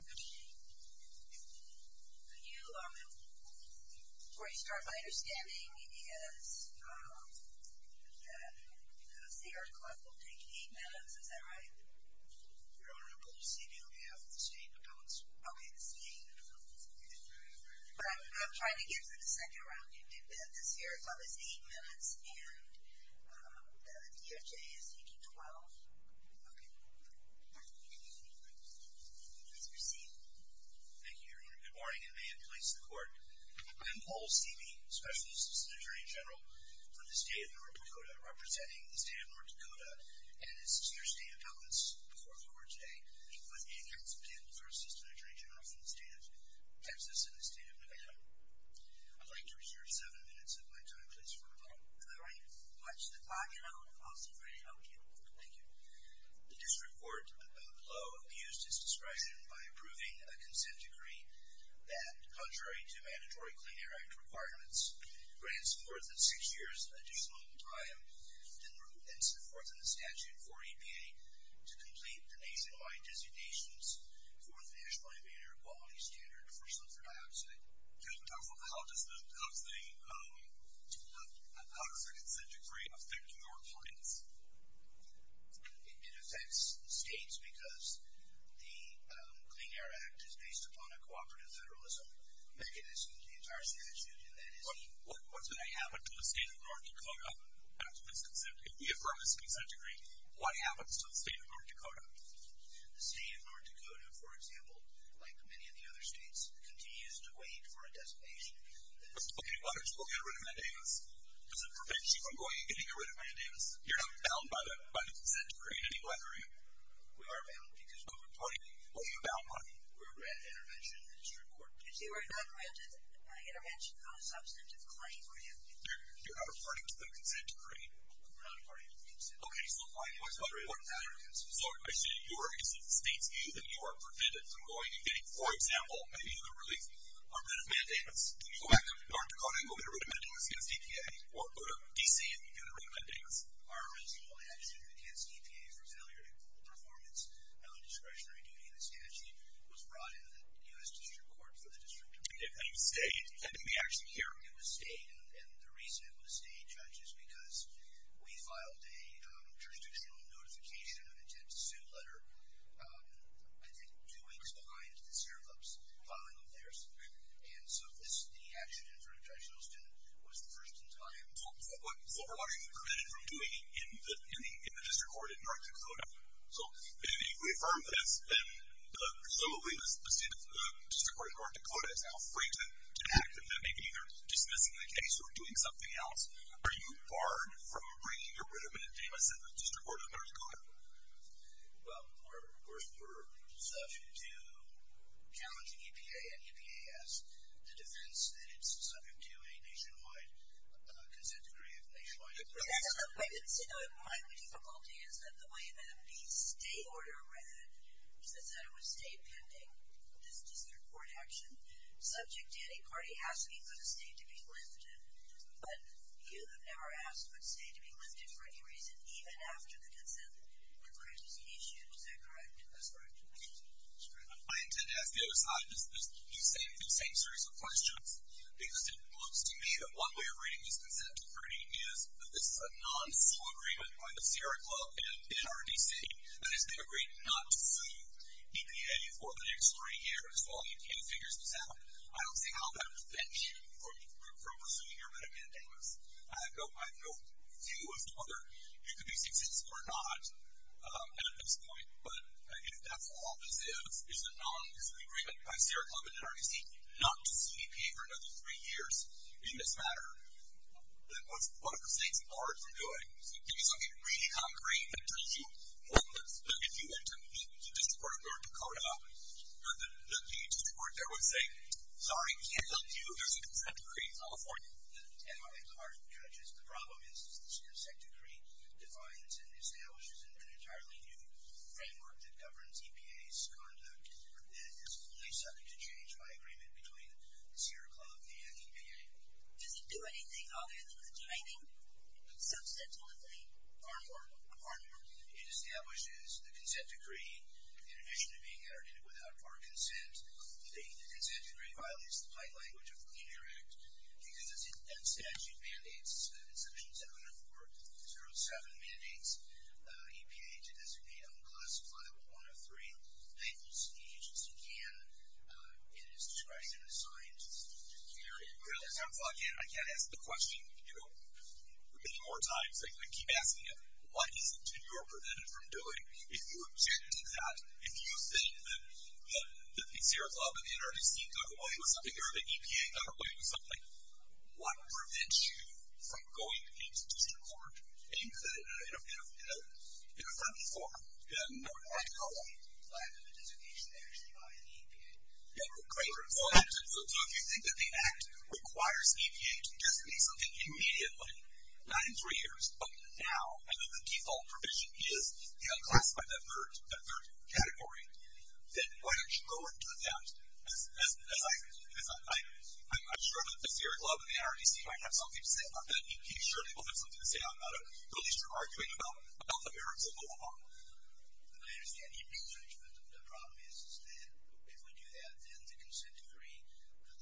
Could you, before you start, my understanding is that the Sierra Club will take 8 minutes, is that right? Your Honor, I believe CBO has the statement of notes. Okay, the statement of notes. But I'm trying to get to the second round. You did say that the Sierra Club is 8 minutes and that the DHA is taking 12? Okay. Let's proceed. Thank you, Your Honor. Good morning, and may it please the Court. I am Paul Stevey, Special Assistant Attorney General for the State of North Dakota, representing the State of North Dakota and its two State Appellants before the Court today, with 8 counts of table for Assistant Attorney General for the State of Texas and the State of Nevada. I'd like to reserve 7 minutes of my time, please, for rebuttal. All right. Watch the clock and I'll see if I can help you. Thank you. The District Court below abused its discretion by approving a consent decree that, contrary to mandatory Clean Air Act requirements, grants forth 6 years additional time and supports in the statute for EPA to complete the nationwide designations for the National Humane Air Quality Standard for sulfur dioxide. How does the consent decree affect your clients? It affects states because the Clean Air Act is based upon a cooperative federalism mechanism in the entire statute, and that is the... What's going to happen to the State of North Dakota after this consent decree? If there is a consent decree, what happens to the State of North Dakota? The State of North Dakota, for example, like many of the other states, continues to wait for a designation. Okay, why don't you go get rid of mandamus? Does it prevent you from going and getting rid of mandamus? You're not bound by the consent decree in any way, are you? We are bound because we're a party. What are you bound by? We're a granted intervention in the District Court. If you are not granted an intervention on a substantive claim, are you? You're not a party to the consent decree. We're not a party to the consent decree. Okay, so why is the District Court not a party to the consent decree? So, I see you are against the state's view that you are prevented from going and getting, for example, maybe even a relief, a rid of mandamus. Can you go back to North Dakota and go get rid of mandamus against EPA? Or go to D.C. and get rid of mandamus? Our original action against EPA for failure to perform its discretionary duty in the statute was brought into the U.S. District Court for the District of Columbia. And you stayed? And did we actually hear? It was stayed, and the reason it was stayed, Judge, is because we filed a jurisdictional notification of intent to sue letter, I think, two weeks behind the Sarah Club's filing of theirs. And so, this, the action in front of Judge Houston, was the first in time. So, what are you prevented from doing in the District Court in North Dakota? So, if you affirm this, then presumably the District Court in North Dakota is now free to act, and that may be either dismissing the case or doing something else. Are you barred from bringing a rid of mandamus in the District Court in North Dakota? Well, we're subject to challenging EPA, and EPA has the defense that it's subject to a nationwide consent decree of nationwide influence. My difficulty is that the way that the stay order read, it said it would stay pending this District Court action. Subject to any party asking for the stay to be lifted. But, you have never asked for the stay to be lifted for any reason, even after the consent decree was issued. Is that correct? That's correct. I intend to ask the other side the same series of questions, because it looks to me that one way of reading this consent decree is that this is a non-sual agreement by the Sarah Club and NRDC that has been agreed not to sue EPA for the next three years while EPA figures this out. I don't see how that would prevent you from pursuing your rid of mandamus. I have no view as to whether you could be successful or not at this point. But, if that's all this is, is a non-sual agreement by Sarah Club and NRDC not to sue EPA for another three years in this matter, then what are the things barred from doing? So, give me something really concrete that tells you, look, if you went to the District Court of North Dakota, the District Court there would say, sorry, we can't help you. There's a consent decree. It's all for you. At heart, judges, the problem is this consent decree defines and establishes an entirely new framework that governs EPA's conduct and is fully subject to change by agreement between the Sarah Club and EPA. Does it do anything other than the timing? Substantively? Formally? Formally? It establishes the consent decree. In addition to being entered in it without our consent, the consent decree violates the plain language of the Clean Air Act. It gives us statute mandates, Section 704.07 mandates EPA to designate on Classified Level 1 of 3 thankful speech as you can, and it's describing him as a scientist. I can't ask the question, you know, many more times. I keep asking it. What is it that you are prevented from doing? If you object to that, if you think that the Sarah Club and the NRDC got away with something or the EPA got away with something, what prevents you from going into District Court in a friendly form? No, I don't know. I have a designation actually by the EPA. Yeah, great. So if you think that the Act requires EPA to designate something immediately, not in three years, but now, and the default provision is Classified Level 3, that third category, then why don't you go into that as I'm sure that the Sarah Club and the NRDC might have something to say about that. EPA surely will have something to say about it, at least you're arguing about the merits of the law. I understand. The problem is that if we do that, then the consent decree,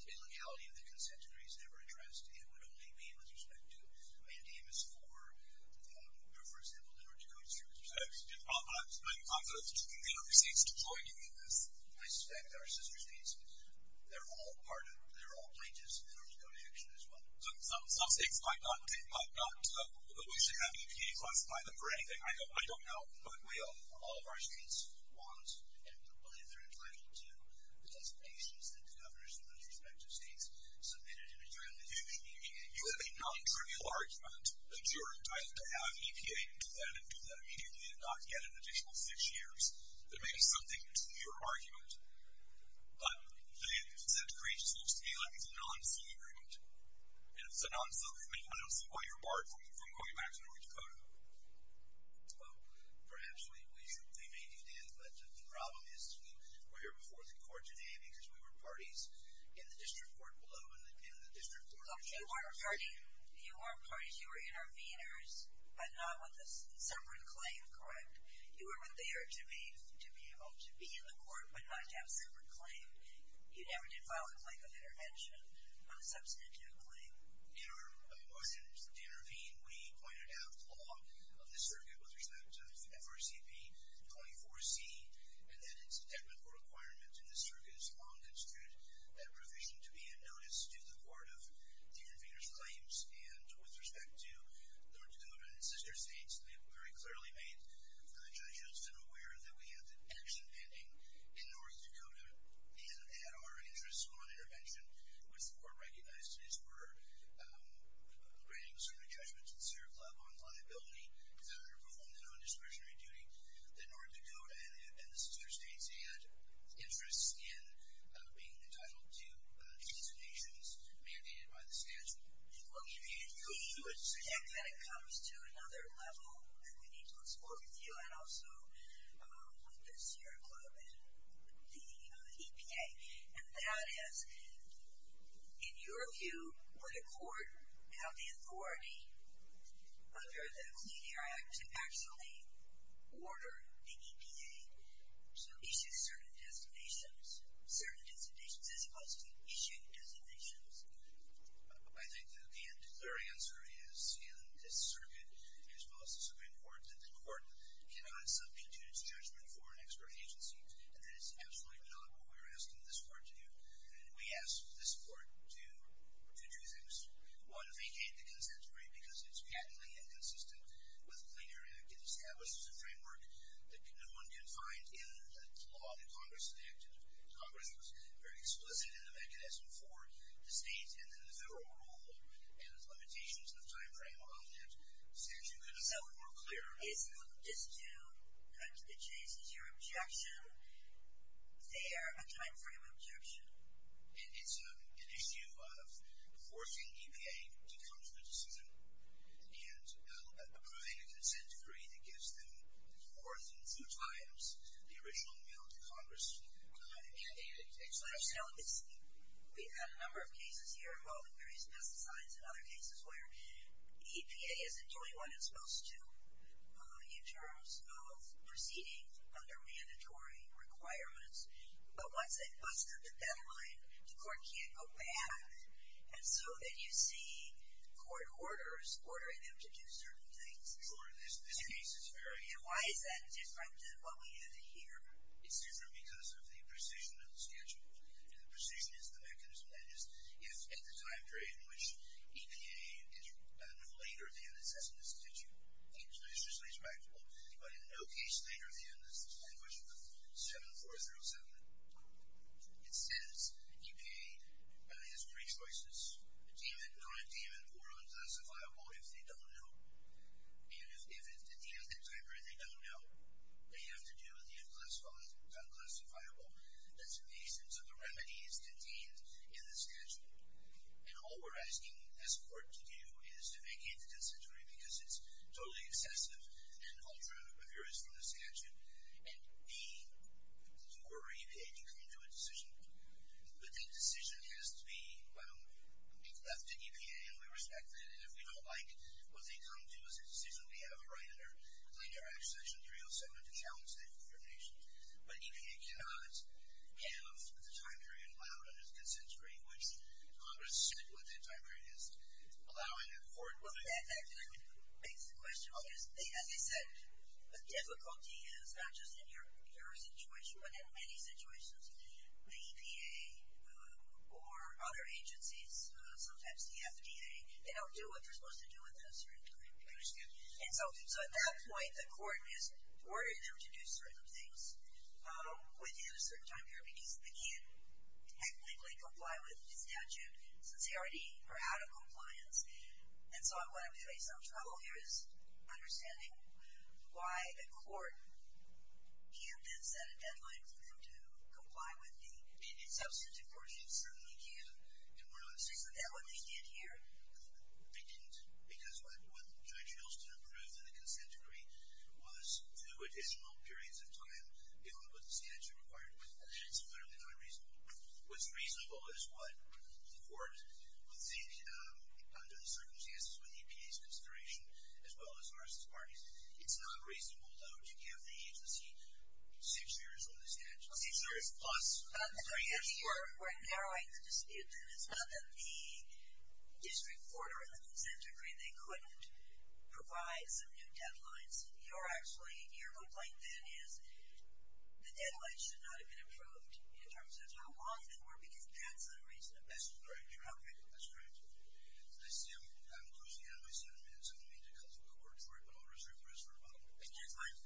the legality of the consent decree is never addressed. It would only be with respect to MNDMS 4, or, for example, the North Dakota District. I'm confident the other states deployed in this. I suspect our sister states. They're all part of it. They're all pages of the North Dakota Action as well. Some states might not, but we should have EPA classify them for anything. I don't know. All of our states want and believe they're entitled to the designations that the governors from those respective states submitted in adjournment. You have a non-trivial argument adjourned. I'd like to have EPA do that and do that immediately and not get an additional six years that may be something to your argument. But the consent decree seems to me like it's a non-single agreement, and if it's a non-single agreement, I don't see why you're barred from going back to North Dakota. Well, perhaps we may do that, but the problem is we were here before the court today because we were parties in the district court below and in the district court. You weren't parties. You were interveners but not with a separate claim, correct? You were there to be able to be in the court but not to have a separate claim. You never did file a claim of intervention on a substantive claim. In order to intervene, we pointed out the law of the circuit with respect to FRCP 24C and that it's a technical requirement in the circuit's long-constituted provision to be a notice to the court of the intervener's claims. And with respect to North Dakota and its sister states, we have very clearly made the judges aware that we have the action pending in North Dakota and that our interest on intervention, which the court recognized, is we're granting certain adjustments to the Sierra Club on liability and underperforming on discretionary duty. In North Dakota and the sister states, you had interests in being entitled to designations mandated by the statute. Well, can you predict that it comes to another level that we need to explore with you and also with the Sierra Club and the EPA? And that is, in your view, would a court have the authority under the Clean Air Act to actually order the EPA to issue certain designations, certain designations as opposed to issuing designations? I think the clear answer is in this circuit, as well as the Supreme Court, that the court cannot substitute its judgment for an expert agency and that is absolutely not what we are asking this court to do. And we ask this court to do two things. One, vacate the consent decree because it's patently inconsistent with the Clean Air Act. It establishes a framework that no one can find in the law that Congress enacted. Congress was very explicit in the mechanism for the state and then the federal rule and the limitations of the time frame on that statute. Could you be a little more clear? So, is this to cut to the chase? Is your objection there a time frame objection? It's an issue of forcing EPA to come to the decision and approving a consent decree that gives them fourth and three times the original mail to Congress. I mean, it's... We've had a number of cases here involving various pesticides and other cases where EPA isn't doing what it's supposed to in terms of proceeding under mandatory requirements. But once they've busted the deadline, the court can't go back. And so then you see court orders ordering them to do certain things. Sure. In this case, it's very... And why is that different than what we have here? It's different because of the precision of the schedule. And the precision is the mechanism. That is, if at the time frame in which EPA is no later than it says in the statute, it's just respectable. But in no case later than the language of the 7407, it says EPA has three choices, deem it non-deem it or unclassifiable if they don't know. And if it's in the end of the time frame they don't know, they have to do the unclassifiable. That's in the instance of the remedies contained in the statute. And all we're asking this court to do is to vacate the consent decree because it's totally excessive and ultra-obvious from the statute. And the court or EPA can come to a decision. But that decision has to be left to EPA. And we respect that. And if we don't like what they come to as a decision, we have a right under Linear Act Section 307 to challenge that information. But EPA cannot have the time period allowed under the consent decree, which Congress said what that time period is, allowing it or not. Well, that actually begs the question because, as I said, the difficulty is not just in your situation, but in many situations, the EPA or other agencies, sometimes the FDA, they don't do what they're supposed to do at that certain time period. I understand. And so at that point, the court has ordered them to do certain things within a certain time period because they can't technically comply with the statute, since they already are out of compliance. And so what I'm going to face some trouble here is understanding why the court can't then set a deadline for them to comply with the… Substantive court should certainly can. And we're not… Isn't that what they did here? They didn't. Because what Judge Hilston approved in the consent decree was two additional periods of time beyond what the statute required. And that is literally not reasonable. What's reasonable is what the court, under the circumstances with the EPA's consideration, as well as ours as parties. It's not reasonable, though, to give the agency six years on the statute. Six years plus three years for… We're narrowing the dispute. It's not that the district court or the consent decree, they couldn't provide some new deadlines. Your complaint then is the deadlines should not have been approved in terms of how long before, because that's unreasonable. That's correct. You're correct. That's correct. I see I'm closing in on my seven minutes. I don't mean to cut the court short, but I'll reserve the rest for tomorrow. Okay. Thank you.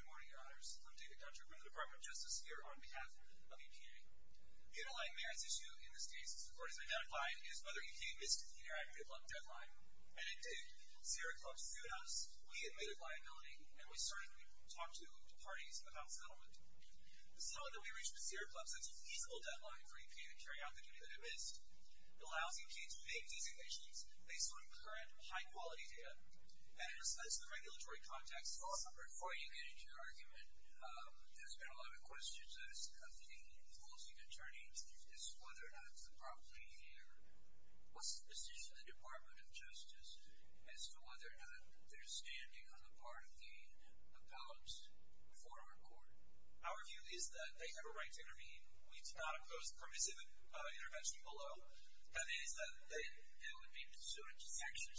Good morning, Your Honors. I'm David Dutcher from the Department of Justice here on behalf of EPA. The underlying merits issue in this case, as the court has identified, is whether EPA missed the Interactive Club deadline. And indeed, Sierra Club sued us. We admitted liability, and we started to talk to parties about settlement. The settlement that we reached with Sierra Club sets a feasible deadline for EPA to carry out the duty that it missed. It allows EPA to make designations based on current high-quality data. And in respect to the regulatory context, before you get into your argument, there's been a lot of questions asked of the opposing attorneys as to whether or not they're properly here. What's the position of the Department of Justice as to whether or not they're standing on the part of the appellants before our court? Our view is that they have a right to intervene. We do not oppose permissive intervention below. That is, that it would be pursuant to Section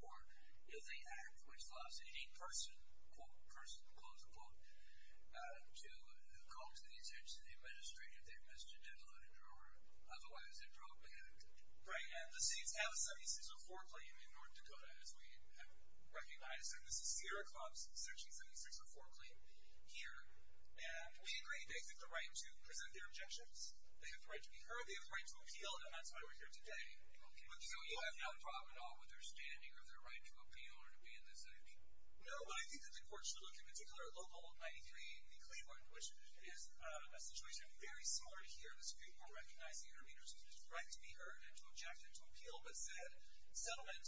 7604 of the Act, which allows any person, quote, person, close quote, to come to the attention of the administrator if they've missed a deadline or otherwise a drug ban. Right, and the seats have a 7604 claim in North Dakota, as we have recognized. And this is Sierra Club's Section 7604 claim here. And we agree they have the right to present their objections. They have the right to be heard. They have the right to appeal. And that's why we're here today. So you have no problem at all with their standing or their right to appeal or to be in this setting? No, but I think that the court should look, in particular, at Local 93 v. Cleveland, which is a situation very similar to here. The Supreme Court recognized the intervener's right to be heard and to object and to appeal, but said settlement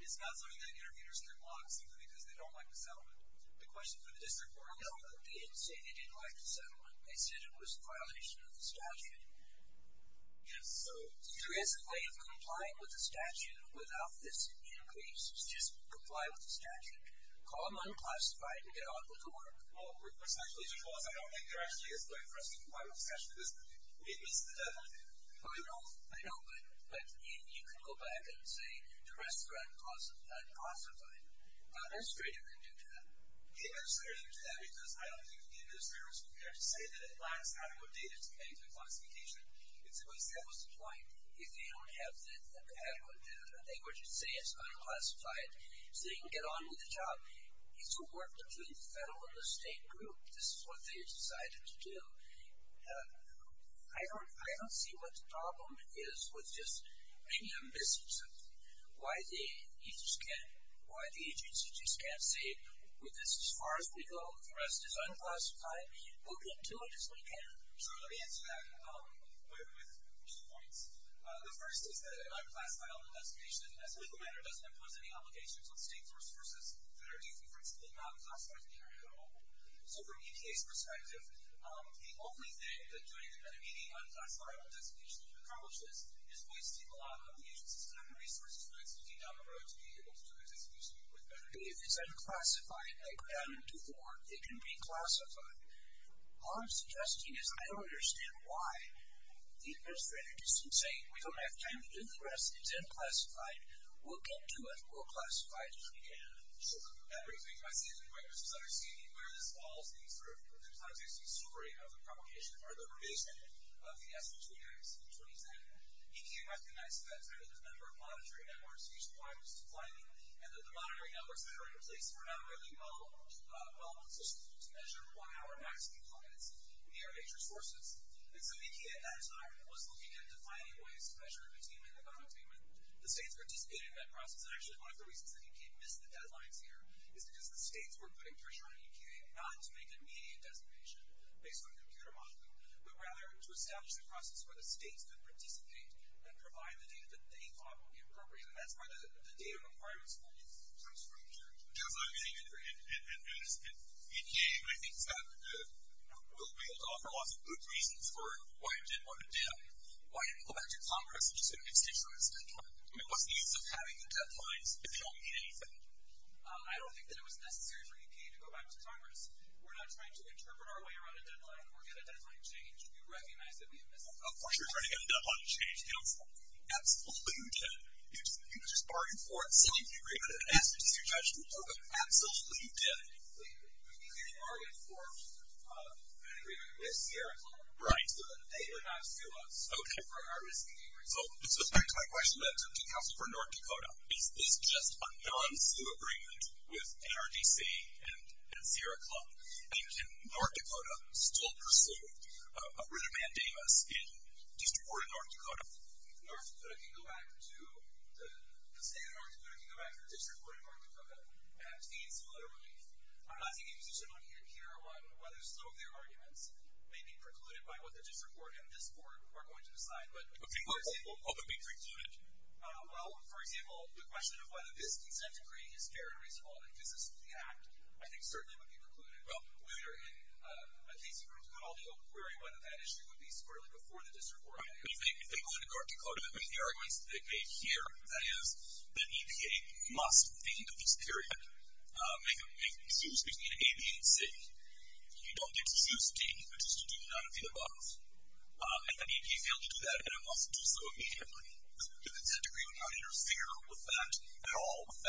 is not something that interveners can block simply because they don't like the settlement. The question for the district court is? No, they didn't say they didn't like the settlement. They said it was a violation of the statute. Yes. So there is a way of complying with the statute without this increase. Just comply with the statute. Call them unclassified and get on with the work. Well, what's actually your clause? I don't think there actually is a way for us to comply with the statute. We missed the deadline. Oh, I know. I know. But you can go back and say, the rest are unclassified. The administrator can do that. Yeah, the administrator can do that because I don't think the administrator is going to be there to say that it lacks adequate data to pay for classification. That was the point. If they don't have the adequate data, they would just say it's unclassified so they can get on with the job. It's a work between the federal and the state group. This is what they decided to do. I don't see what the problem is with just bringing them business. Why the agency just can't say, with this as far as we go, the rest is unclassified, we'll get to it as we can. Sure, let me answer that with two points. The first is that an unclassifiable designation as a legal matter doesn't impose any obligations on state sources that are different from the non-classified data at all. So from EPA's perspective, the only thing that doing an immediate unclassifiable designation accomplishes is wasting a lot of the agency's time and resources when it's looking down the road to be able to do a designation with better data. If it's unclassified, like we've done before, it can be classified. All I'm suggesting is I don't understand why the administrator just can't say, we don't have time to do the rest, it's unclassified, we'll get to it, we'll classify it as we can. Sure. That brings me to my second point, which is understanding where this falls in the context and story of the provocation, or the revision of the SB-20X in 2010. EPA recognized at that time that the number of monitoring networks nationwide was declining and that the monitoring networks that are in place were not really well positioned to measure one-hour max declines near major sources. And so EPA at that time was looking at defining ways to measure containment and non-containment. The states participated in that process, and actually one of the reasons that EPA missed the deadlines here is because the states were putting pressure on EPA not to make an immediate designation based on computer modeling, but rather to establish the process where the states could participate and provide the data that they thought would be appropriate. And that's where the data requirements fall from here. Because, I mean, EPA, I think, will be able to offer lots of good reasons for why it didn't want to do that, why it didn't go back to Congress, which is going to make states realize the deadline. I mean, what's the use of having the deadlines if they don't mean anything? I don't think that it was necessary for EPA to go back to Congress. We're not trying to interpret our way around a deadline. We're going to definitely change. You recognize that we have missed the deadline. Of course you're trying to get a deadline to change. Absolutely you did. You just bargained for it. You signed the agreement and asked it to your judgment. Absolutely you did. So you bargained for an agreement with Sierra Club. Right. But they did not sue us. Okay. For our misdemeanor. So back to my question to counsel for North Dakota. Is this just a non-sue agreement with NRDC and Sierra Club? And can North Dakota still pursue a rhythm and damas in District 4 in North Dakota? North Dakota can go back to the state of North Dakota, can go back to the District 4 in North Dakota and obtain similar relief. I'm not taking a position on either here on whether some of their arguments may be precluded by what the District 4 and this board are going to decide. Okay. What would be precluded? Well, for example, the question of whether this consent decree is fair and reasonable and it exists in the act, I think certainly would be precluded. We are in a case in which we could all be open query whether that issue would be squirrelly before the District 4. If they go into North Dakota with the arguments that they've made here, that is, that EPA must, at the end of this period, make a decision between A, B, and C. You don't get to choose D, which is to do none of the above. If an EPA fails to do that, it must do so immediately. The consent decree would not interfere with that at all, with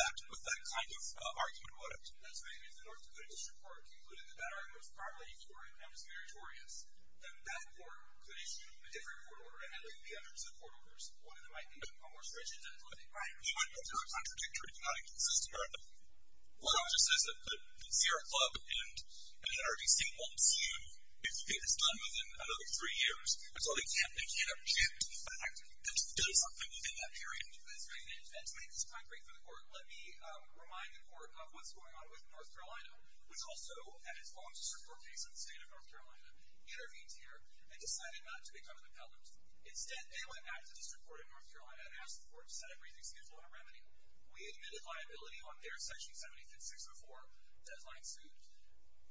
that kind of argument, would it? That's right. If the North Dakota District Court concluded that that argument was parliamentary and dismeritorious, then that court could issue a different court order and have it be under the court order's support, and it might be more stringent than it would be. Right. It might be a contradictory, not inconsistent argument. One of them just says that the Sierra Club and NRDC won't sue if it is done within another three years. That's all they can't do. They can't object to the fact that it does something within that period. That's right. And to make this concrete for the court, let me remind the court of what's going on with North Carolina, which also, at its own district court case in the state of North Carolina, intervened here and decided not to become an appellant. Instead, they went back to the district court in North Carolina and asked the court to set a briefing schedule and a remedy. We admitted liability on their section 75604 deadline suit.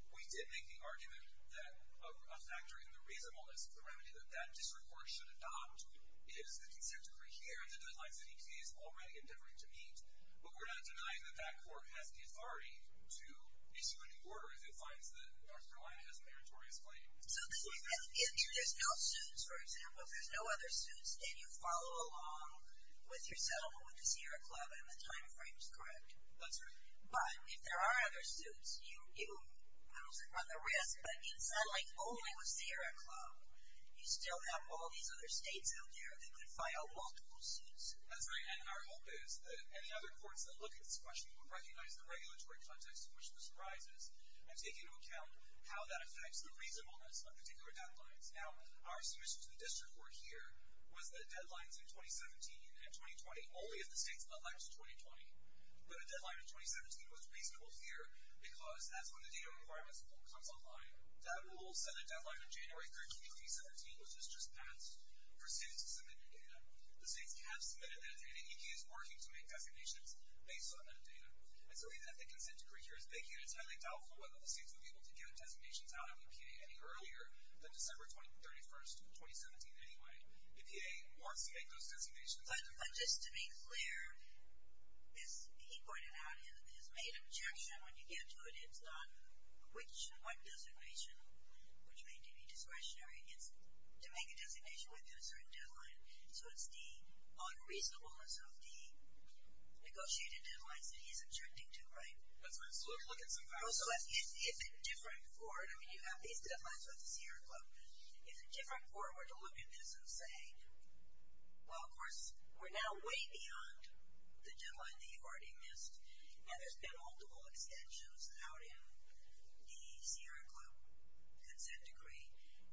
We did make the argument that a factor in the reasonableness of the remedy that that district court should adopt is the consent decree here and the deadlines that EPA is already endeavoring to meet. But we're not denying that that court has the authority to issue a new order if it finds that North Carolina has a meritorious claim. So if there's no suits, for example, if there's no other suits, then you follow along with your settlement with the Sierra Club, and the time frame is correct. That's right. But if there are other suits, you run the risk that in settling only with Sierra Club, you still have all these other states out there that could file multiple suits. That's right. And our hope is that any other courts that look at this question would recognize the regulatory context in which this arises and take into account how that affects the reasonableness of particular deadlines. Now, our submission to the district court here was that deadlines in 2017 and 2020, only if the states elect 2020. But a deadline in 2017 was reasonable here because that's when the data requirements comes online. That rule set a deadline in January 13, 2017, which was just passed, for states to submit their data. The states have submitted their data. The EPA is working to make designations based on that data. It's the reason that the consent decree here is big here. It's highly doubtful whether the states will be able to get designations out of EPA any earlier than December 31, 2017 anyway. EPA wants to make those designations. But just to be clear, as he pointed out, it is made objection when you get to it. It's not which one designation, which may be discretionary. It's to make a designation within a certain deadline. So it's the unreasonableness of the negotiated deadlines that he's objecting to, right? Let's look at some facts. Also, if a different court, I mean, you have these deadlines with the Sierra Club. If a different court were to look at this and say, well, of course, we're now way beyond the deadline that you already missed, and there's been multiple extensions out in the Sierra Club consent decree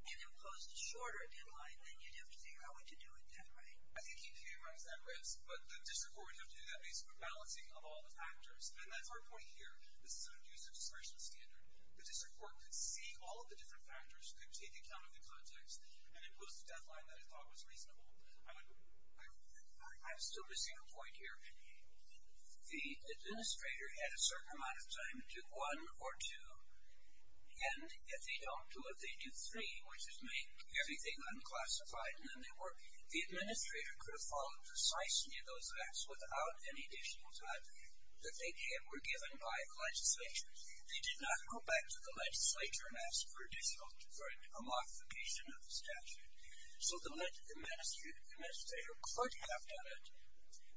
and imposed a shorter deadline, then you'd have to figure out what to do with that, right? I think EPA runs that risk. But the district court would have to do that based on balancing of all the factors. And that's our point here. This is an abuse of discretion standard. The district court could see all of the different factors, could take account of the context, and impose a deadline that it thought was reasonable. I'm still missing a point here. The administrator had a certain amount of time to do one or two. And if they don't do it, they do three, which is make everything unclassified. And then the administrator could have followed precisely those acts without any additional time that they were given by the legislature. They did not go back to the legislature and ask for a modification of the statute. So the administrator could have done it,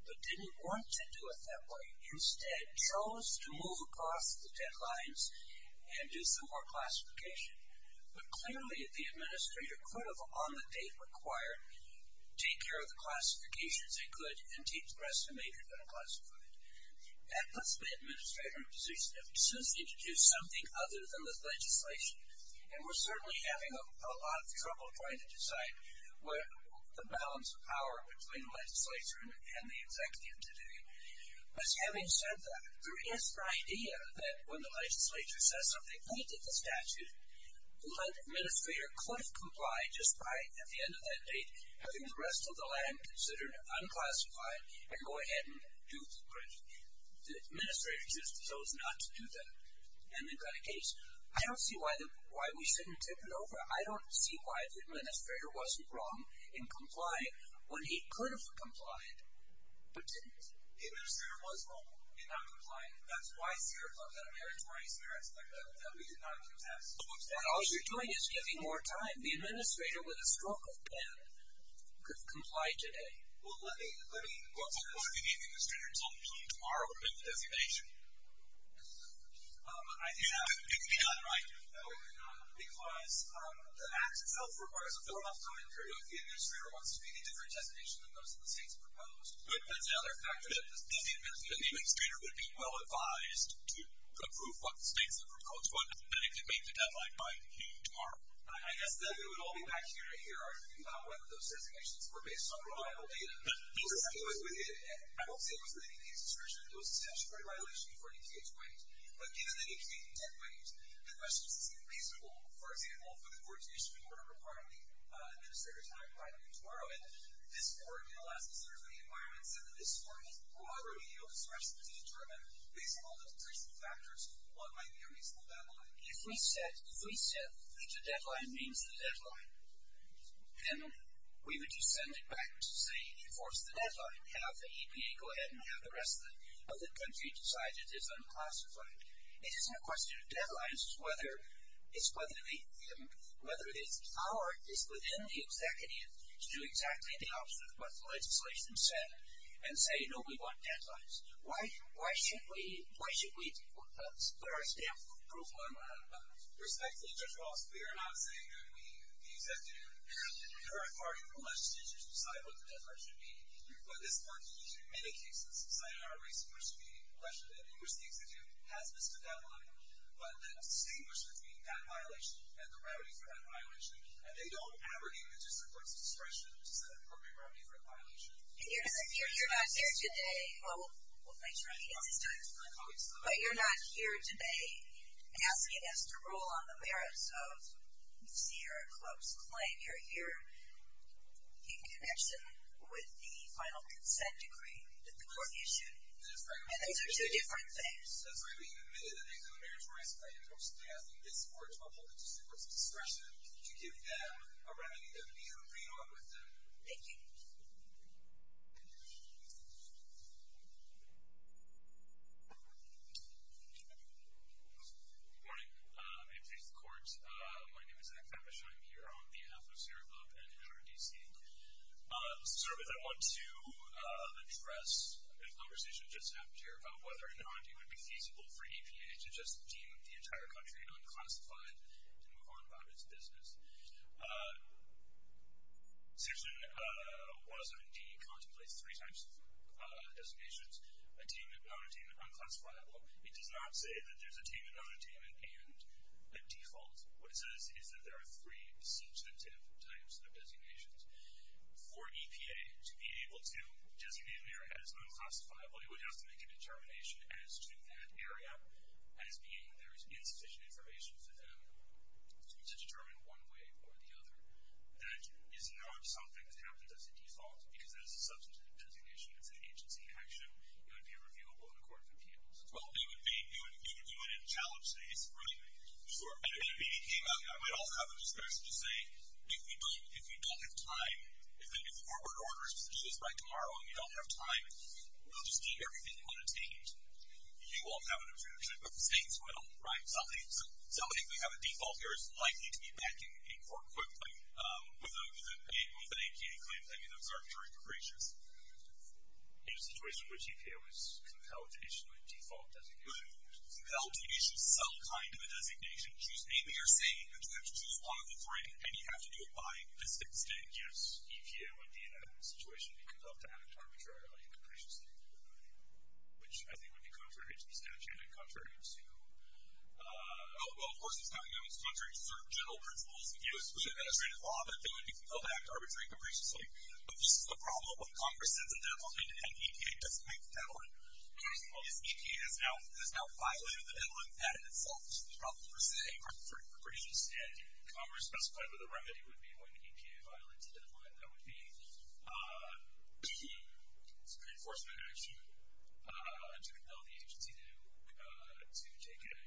but didn't want to do it that way. Instead, chose to move across the deadlines and do some more classification. But clearly, the administrator could have, on the date required, take care of the classifications they could and keep the rest of the majors unclassified. That puts the administrator in a position that persists to do something other than the legislation. And we're certainly having a lot of trouble trying to decide the balance of power between the legislature and the executive today. But having said that, there is the idea that when the legislature says something, and completed the statute, the administrator could have complied just by, at the end of that date, having the rest of the land considered unclassified and go ahead and do the bridge. The administrator just chose not to do that. And they've got a case. I don't see why we shouldn't tip it over. I don't see why the administrator wasn't wrong in complying when he could have complied, but didn't. The administrator was wrong in not complying. That's why Sierra Club had a meritorious merit that we did not contest. All you're doing is giving more time. The administrator, with a stroke of pen, could comply today. Well, let me... What if you gave the administrator until P tomorrow to get the designation? It could be done, right? No, it could not. Because the act itself requires a form of commentary. If the administrator wants to be the different designation than those in the states proposed... But that's the other factor. If the administrator would be well advised to approve what the states have proposed, then it could make the deadline by P tomorrow. I guess that it would all be back to you right here arguing about whether those designations were based on reliable data. I won't say it wasn't any case discretion. It was a statutory violation before DTA's weight. But given the DTA's dead weight, the question is, is it feasible, for example, for the coordination of the order requiring the administrator to have it by P tomorrow? And this board did a lot of research into the environment set in this form. However, we don't express it to determine based on all the decreasing factors what might be a reasonable deadline. If we said that the deadline means the deadline, then we would just send it back to say, enforce the deadline, have the EPA go ahead and have the rest of the country decide it is unclassified. It isn't a question of deadlines. It's whether it's within the executive to do exactly the opposite of what the legislation said and say, no, we want deadlines. Why should we put our stamp approval on one another? Respectfully, Judge Ross, we are not saying that we, the executive and the current party from the legislature should decide what the deadline should be. But this board, in many cases, cited our research to be a question that the English Institute has missed a deadline, but that distinguishes between that violation and the remedies for that violation. And they don't ever give the district court's discretion to set an appropriate remedy for a violation. And you're not here today, well, thanks for making it this time, but you're not here today asking us to rule on the merits of Sierra Club's claim. You're here in connection with the final consent decree that the court issued. And those are two different things. That's why we admitted that these are the merits we're asking the district court's discretion to give them a remedy that would be in agreement with them. Thank you. Good morning. May it please the court. My name is Zach Babish. I'm here on behalf of Sierra Club and NRDC. Let's start with I want to address a conversation that just happened here about whether or not it would be feasible for EPA to just deem the entire country unclassified and to move on about its business. Section 107D contemplates three types of designations, attainment, nonattainment, unclassifiable. It does not say that there's attainment, nonattainment, and a default. What it says is that there are three substantive types of designations. For EPA to be able to designate an area as unclassifiable, it would have to make a determination as to that area as being there is insufficient information for them to determine one way or the other. That is not something that happens as a default because that is a substantive designation. It's an agency action. It would be reviewable in a court of appeals. Well, you would do it in a challenge case, right? Sure. And it would be EPA. I might also have a discretion to say, if we don't have time, if corporate orders do this by tomorrow and we don't have time, we'll just deem everything unattained. You won't have an objection, but the state's will, right? So I think we have a default here. It's likely to be back in court quickly with a claim that, you know, is arbitrary and capricious. In a situation in which EPA was compelled to issue a default designation. Well, compelled to issue some kind of a designation. Namely, you're saying that you have to choose one of the three and you have to do it by this date. Yes, EPA would be in that situation because of the arbitrary and capricious thing. Which I think would be contrary to the statute and contrary to, oh, well, of course, it's not going to be contrary to certain general principles. If you assume an administrative law, then it would be compelled to act arbitrary and capriciously. But this is the problem. If Congress sets a deadline and EPA doesn't make the deadline, in other words, EPA has now violated the deadline patent itself. This is the problem, per se, for capricious. And Congress specified what the remedy would be when EPA violates a deadline. And that would be to enforce an act or to compel the agency to take a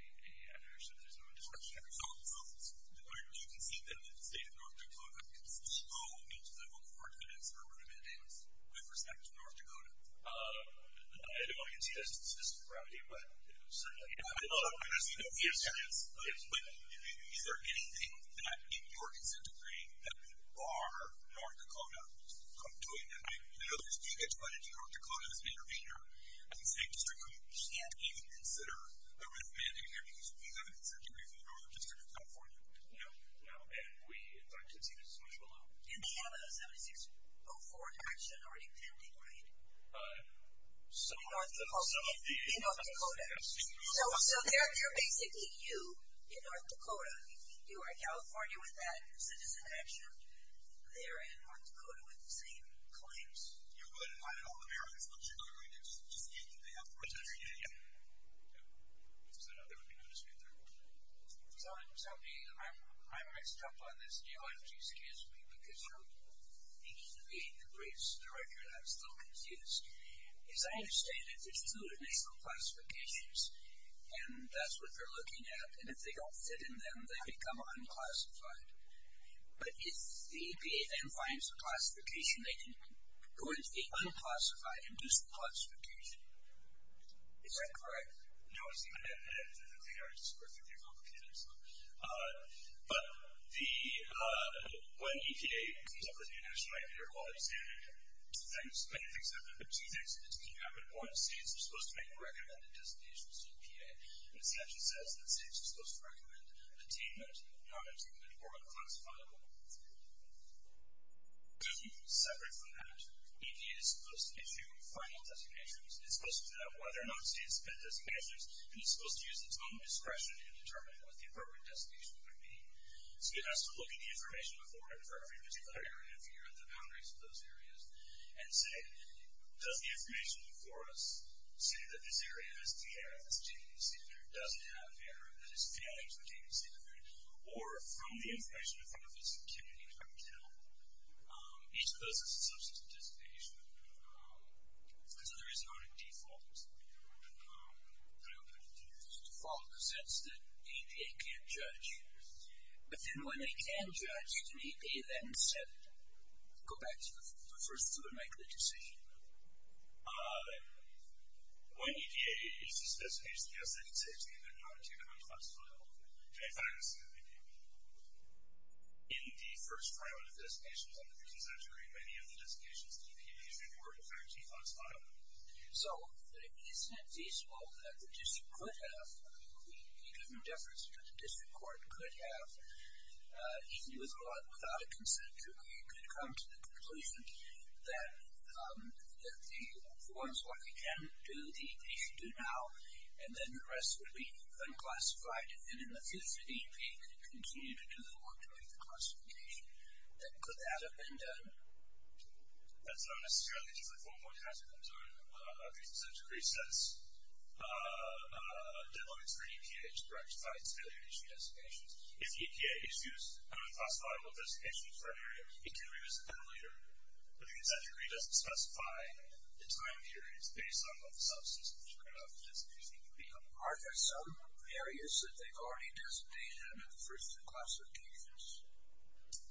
measure so that there's no indiscretion. Do you concede that the state of North Dakota can still go into the local court and answer a written mandate with respect to North Dakota? I don't know if you can see that statistically grounded, but certainly not. I'm not saying that we have to. But is there anything that, in your consent decree, that would bar North Dakota from doing that? You know, if you get invited to North Dakota as an intervener in the state district, you can't even consider a written mandate in there because you have an consent decree from the Northern District of California. No. And we, in fact, concede that it's much below. And they have a 7604 action already pending, right? In North Dakota. In North Dakota. So they're basically you in North Dakota. You are in California with that citizen action. They're in North Dakota with the same claims. You would invite all Americans, but you're going to just end up with a written mandate? Yeah. Yeah. So no, there would be no dispute there. So I might step on this deal, if you excuse me, because I'm beginning to be the briefs director, and I'm still confused. As I understand it, it's included in the school classifications, and that's what they're looking at. And if they don't fit in them, they become unclassified. But if the EPA then finds a classification, they can go into the unclassified and do some classification. Is that correct? No, it's not. They are just perfectly complicated. But when EPA comes up with a new national IP or equality standard, many things happen. Two things can happen. One, states are supposed to make recommended designations of EPA. And the section says that states are supposed to recommend attainment, non-attainment, or unclassifiable. Separate from that, EPA is supposed to issue final designations. It's supposed to figure out whether or not states get designations. And it's supposed to use its own discretion in determining what the appropriate designation would be. So it has to look at the information before it for every particular area, figure out the boundaries of those areas, and say, does the information before us say that this area has the error of this attainment standard, does it have error of this failure of this attainment standard? Or from the information in front of us, can it help each person's substance dissipation? So there is no default. I don't think there's a default in the sense that EPA can't judge. But then when they can judge, EPA then can instead go back to the person to make the decision. When EPA issues a designation, yes, they can say attainment, non-attainment, or unclassifiable. In fact, in the first trial of designations in the recent century, many of the designations EPA issued were in fact unclassifiable. So isn't it feasible that the district could have, it would make no difference, but the district court could have, even without a consent decree, could come to the conclusion that the forms what we can do, the EPA should do now. And then the rest would be unclassified. And in the future, the EPA could continue to do the work to make the classification. Then could that have been done? That's not necessarily just a form where you have to consent decree says developments for EPA to rectify its failure to issue designations. If the EPA issues unclassifiable designations for an area, it can revisit that later. But the consent decree doesn't specify the time periods based on what the subsystems you're going to have for designations will become. Are there some areas that they've already designated versus the classification?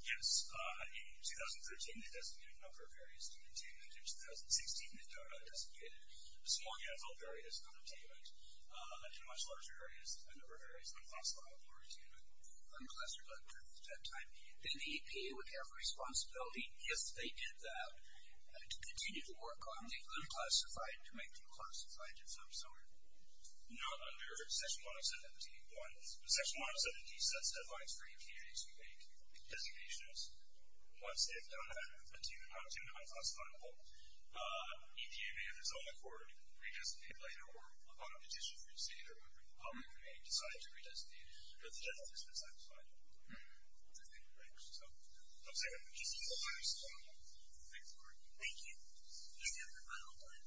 Yes. In 2013, they designated a number of areas to maintain. In 2016, they designated a small handful of areas unattainable. And in much larger areas, a number of areas unclassifiable or attainable. Unclassified at that time. Then the EPA would have a responsibility, if they did that, to continue to work on the unclassified to make the unclassified its subsystem. Not under Section 107.1. But Section 107.2 sets deadlines for EPA to make designations once they've done that, attaining the unclassifiable. EPA may, if it's on the court, re-designate it later. Or upon a petition from the state or public committee, decide to re-designate it. But the judge hasn't been satisfied. Does that answer your question? No? I'm sorry. Just one more. Thank you. Thank you. We have one more time.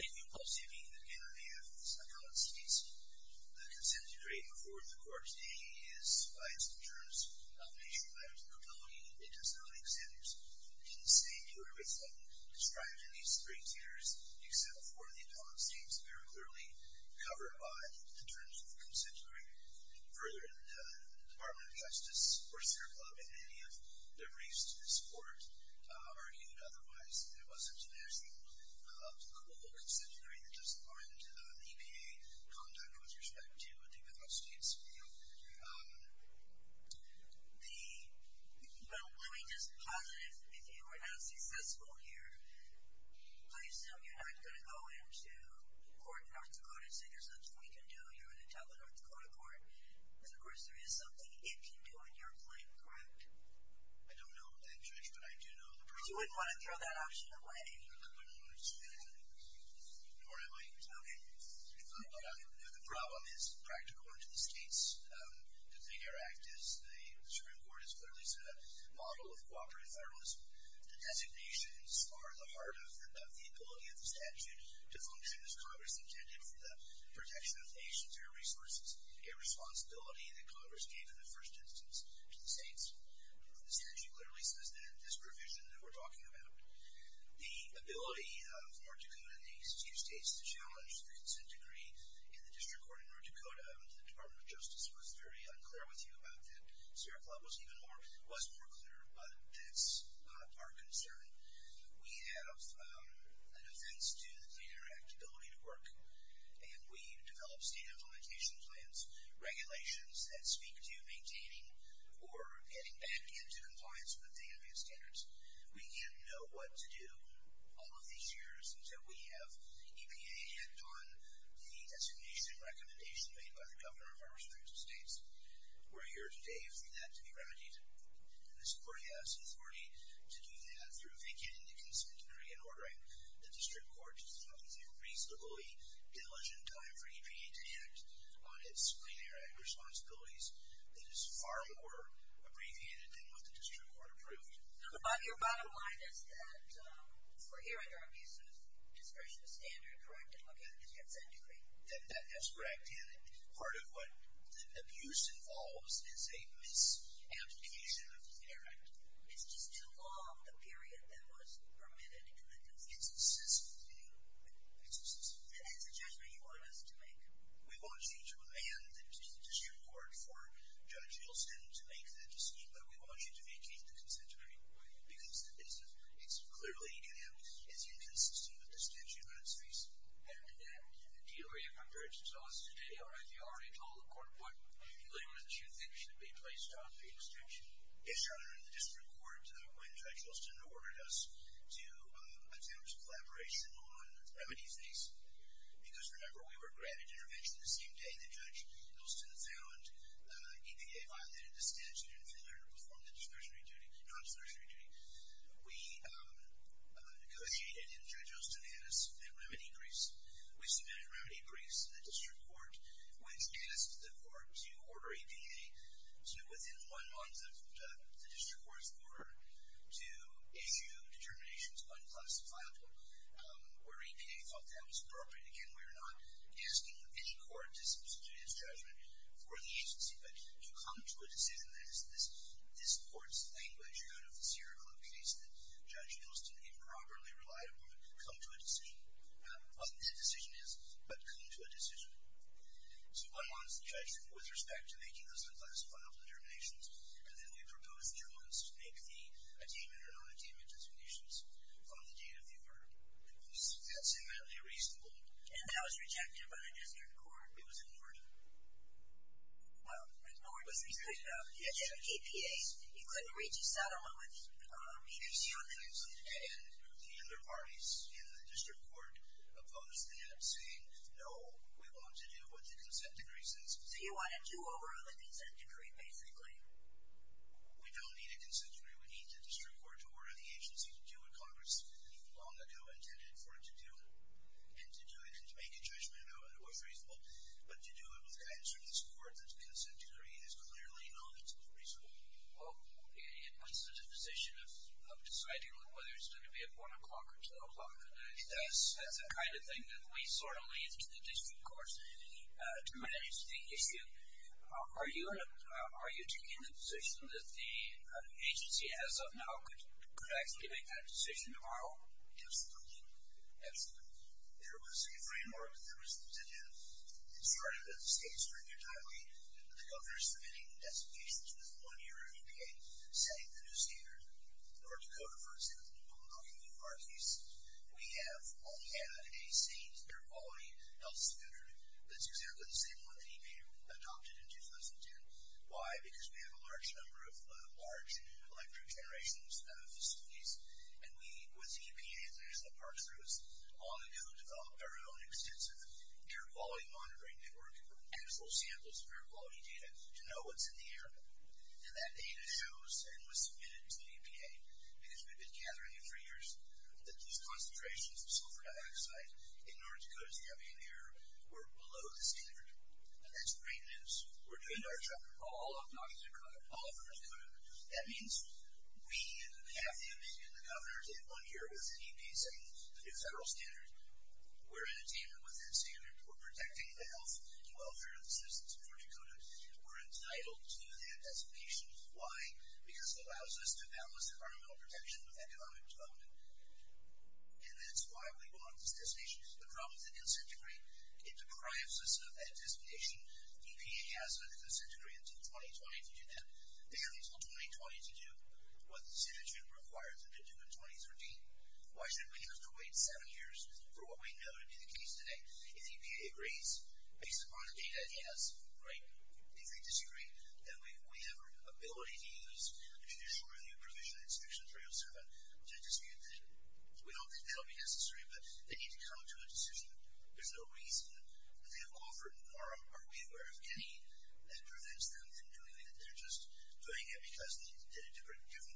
Thank you. I'll say it again. I'll say it again. I'll say it again. The consent decree before the court today is biased in terms of nature, matters, and capability. It does not exempt, in the same way, everything described in these three theaters, except for the appellant states. They are clearly covered by the terms of the consent decree. Further, the Department of Justice, Orster Club, and any of the briefs to this court argued otherwise. There wasn't a national consent decree that doesn't warrant EPA conduct with respect to the appellant states. Well, let me just posit if you are not successful here, I assume you're not going to go into court in North Dakota and say there's nothing we can do here in the Utah and North Dakota court. Because, of course, there is something it can do in your claim, correct? I don't know that, Judge. But I do know the problem. But you wouldn't want to throw that option away. I wouldn't want to do that. Nor am I. OK. The problem is practical. And to the states, to think our act is, the Supreme Court has clearly set up a model of cooperative federalism. The designations are the heart of the ability of the statute to function as Congress intended for the protection of nations or resources, a responsibility that Congress gave in the first instance to the states. The statute clearly says that this provision that we're talking about, the ability of North Dakota and these two states to challenge the consent decree in the district court in North Dakota, the Department of Justice was very unclear with you about that. Sierra Club was even more, was more clear. But that's not our concern. We have an offense due to the interactive ability to work. And we develop state implementation plans, regulations that speak to maintaining or getting back into compliance with the advanced standards. We didn't know what to do all of these years until we have EPA act on the designation recommendation made by the governor of our respective states. We're here today for that to be remedied. And the Supreme Court has authority to do that through vacating the consent decree and ordering the district court to think it's a reasonably diligent time for EPA to act on its plenary responsibilities. It is far more abbreviated than what the district court approved. Your bottom line is that we're here under abusive discretion standard, correct? And look at the consent decree. That's correct. And part of what the abuse involves is a misapplication of the interactive. It's just too long, the period that was permitted in the district. It's a system thing. It's a system thing. And that's a judgment you want us to make. We want you to demand the district court for Judge Hilton to make the decision. But we want you to vacate the consent decree. Why? Because it's clearly inconsistent with the statute on its face. And in that, the DOE, in comparison to us today, already told the court what limits you think should be placed on the exemption. Yes, Your Honor, in the district court, when Judge Hilton ordered us to attempt collaboration on remedy phase, because remember, we were granted intervention the same day that Judge Hilton found EPA violated the statute and failed to perform the discretionary duty, non-discretionary duty. We negotiated and Judge Hilton had us submit remedy briefs. We submitted remedy briefs to the district court, which asked the court to order EPA to, within one month of the district court's order, to issue determinations unclassified, where EPA thought that was appropriate. Again, we are not asking any court to substitute its judgment for the agency. But to come to a decision, that is, this court's language out of the Sierra Club case that Judge Hilton improperly relied upon, come to a decision. Obviously, the decision is, but come to a decision. So one month, the judge, with respect to making those unclassified determinations, and then we proposed two months to make the attainment or non-attainment determinations on the date of the order. And we think that's immediately reasonable. And that was rejected by the district court? It was ignored. Well, ignored because EPA, you couldn't reach a settlement with either Sierra Club or EPA. And the other parties in the district court opposed that, saying, no, we want to do what the consent decree says. So you wanted to order the consent decree, basically. We don't need a consent decree. We need the district court to order the agency to do what Congress, even long ago, intended for it to do. And to do it, and to make a judgment on how it was reasonable, but to do it with the guidance of this court that the consent decree is clearly not reasonable. Well, it puts us in a position of deciding whether it's going to be at 1 o'clock or 12 o'clock. That's the kind of thing that we sort of leave to the district court to manage the issue. Are you taking the position that the agency, as of now, could actually make that decision tomorrow? Absolutely. Absolutely. There was a framework that was instituted. It started with the state stringent timely, with the governor submitting designations with one year of EPA, setting the new standard. North Dakota, for example, when we're talking about our case, we have only had a state air quality health standard that's exactly the same one that EPA adopted in 2010. Why? Because we have a large number of large electric generation facilities. And we, with the EPA, on the go, developed our own extensive air quality monitoring network and full samples of air quality data to know what's in the air. And that data shows and was submitted to the EPA because we've been gathering it for years that these concentrations of sulfur dioxide in North Dakota's campaign air were below the standard. And that's great news. We're doing our job. All of North Dakota? All of North Dakota. That means we have the ability, and the governor did one year with the EPA, setting the new federal standard. We're in agreement with that standard. We're protecting the health and welfare of the citizens of North Dakota. We're entitled to that designation. Why? Because it allows us to balance environmental protection with economic development. And that's why we want this designation. The problem with the consent decree, it deprives us of that designation. EPA has a consent decree until 2020 to do that. They have until 2020 to do what the statute requires them to do in 2013. Why should we have to wait seven years for what we know to be the case today? If the EPA agrees, based upon the data, yes. Right? If they disagree, then we have an ability to use an initial review provision, section 307, to dispute that. We don't think that'll be necessary, but they need to come to a decision. There's no reason that they have offered, nor are we aware of any, that prevents them from doing it. They're just doing it because they did a different deal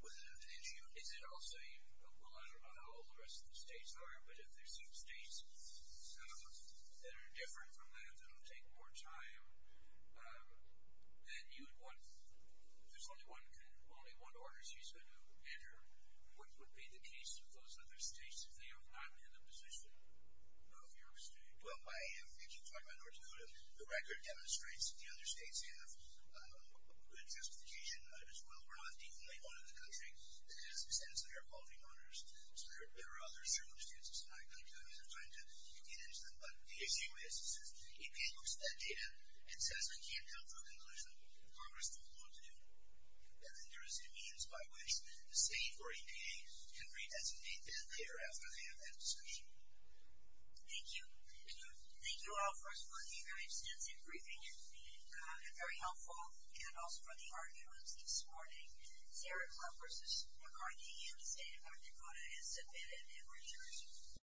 with it. And is it also, well, I don't know how all the rest of the states are, but if there's some states that are different from that, that'll take more time, then you would want, there's only one order she's going to enter. What would be the case of those other states if they are not in the position of your state? Well, if you're talking about North Dakota, the record demonstrates that the other states have good justification as well. We're not the only one in the country that has extensive air quality monitors. So there are other circumstances, and I don't have enough time to get into them, but the issue is, is if EPA looks at that data and says, I can't come to a conclusion, Congress won't want to do it. And then there is a means by which the state or EPA can redesignate that later after they have that discussion. Thank you. Thank you all for a very extensive briefing, and very helpful, and also for the arguments this morning. Sarah Kluppers of RIT and the State of North Dakota has submitted their research.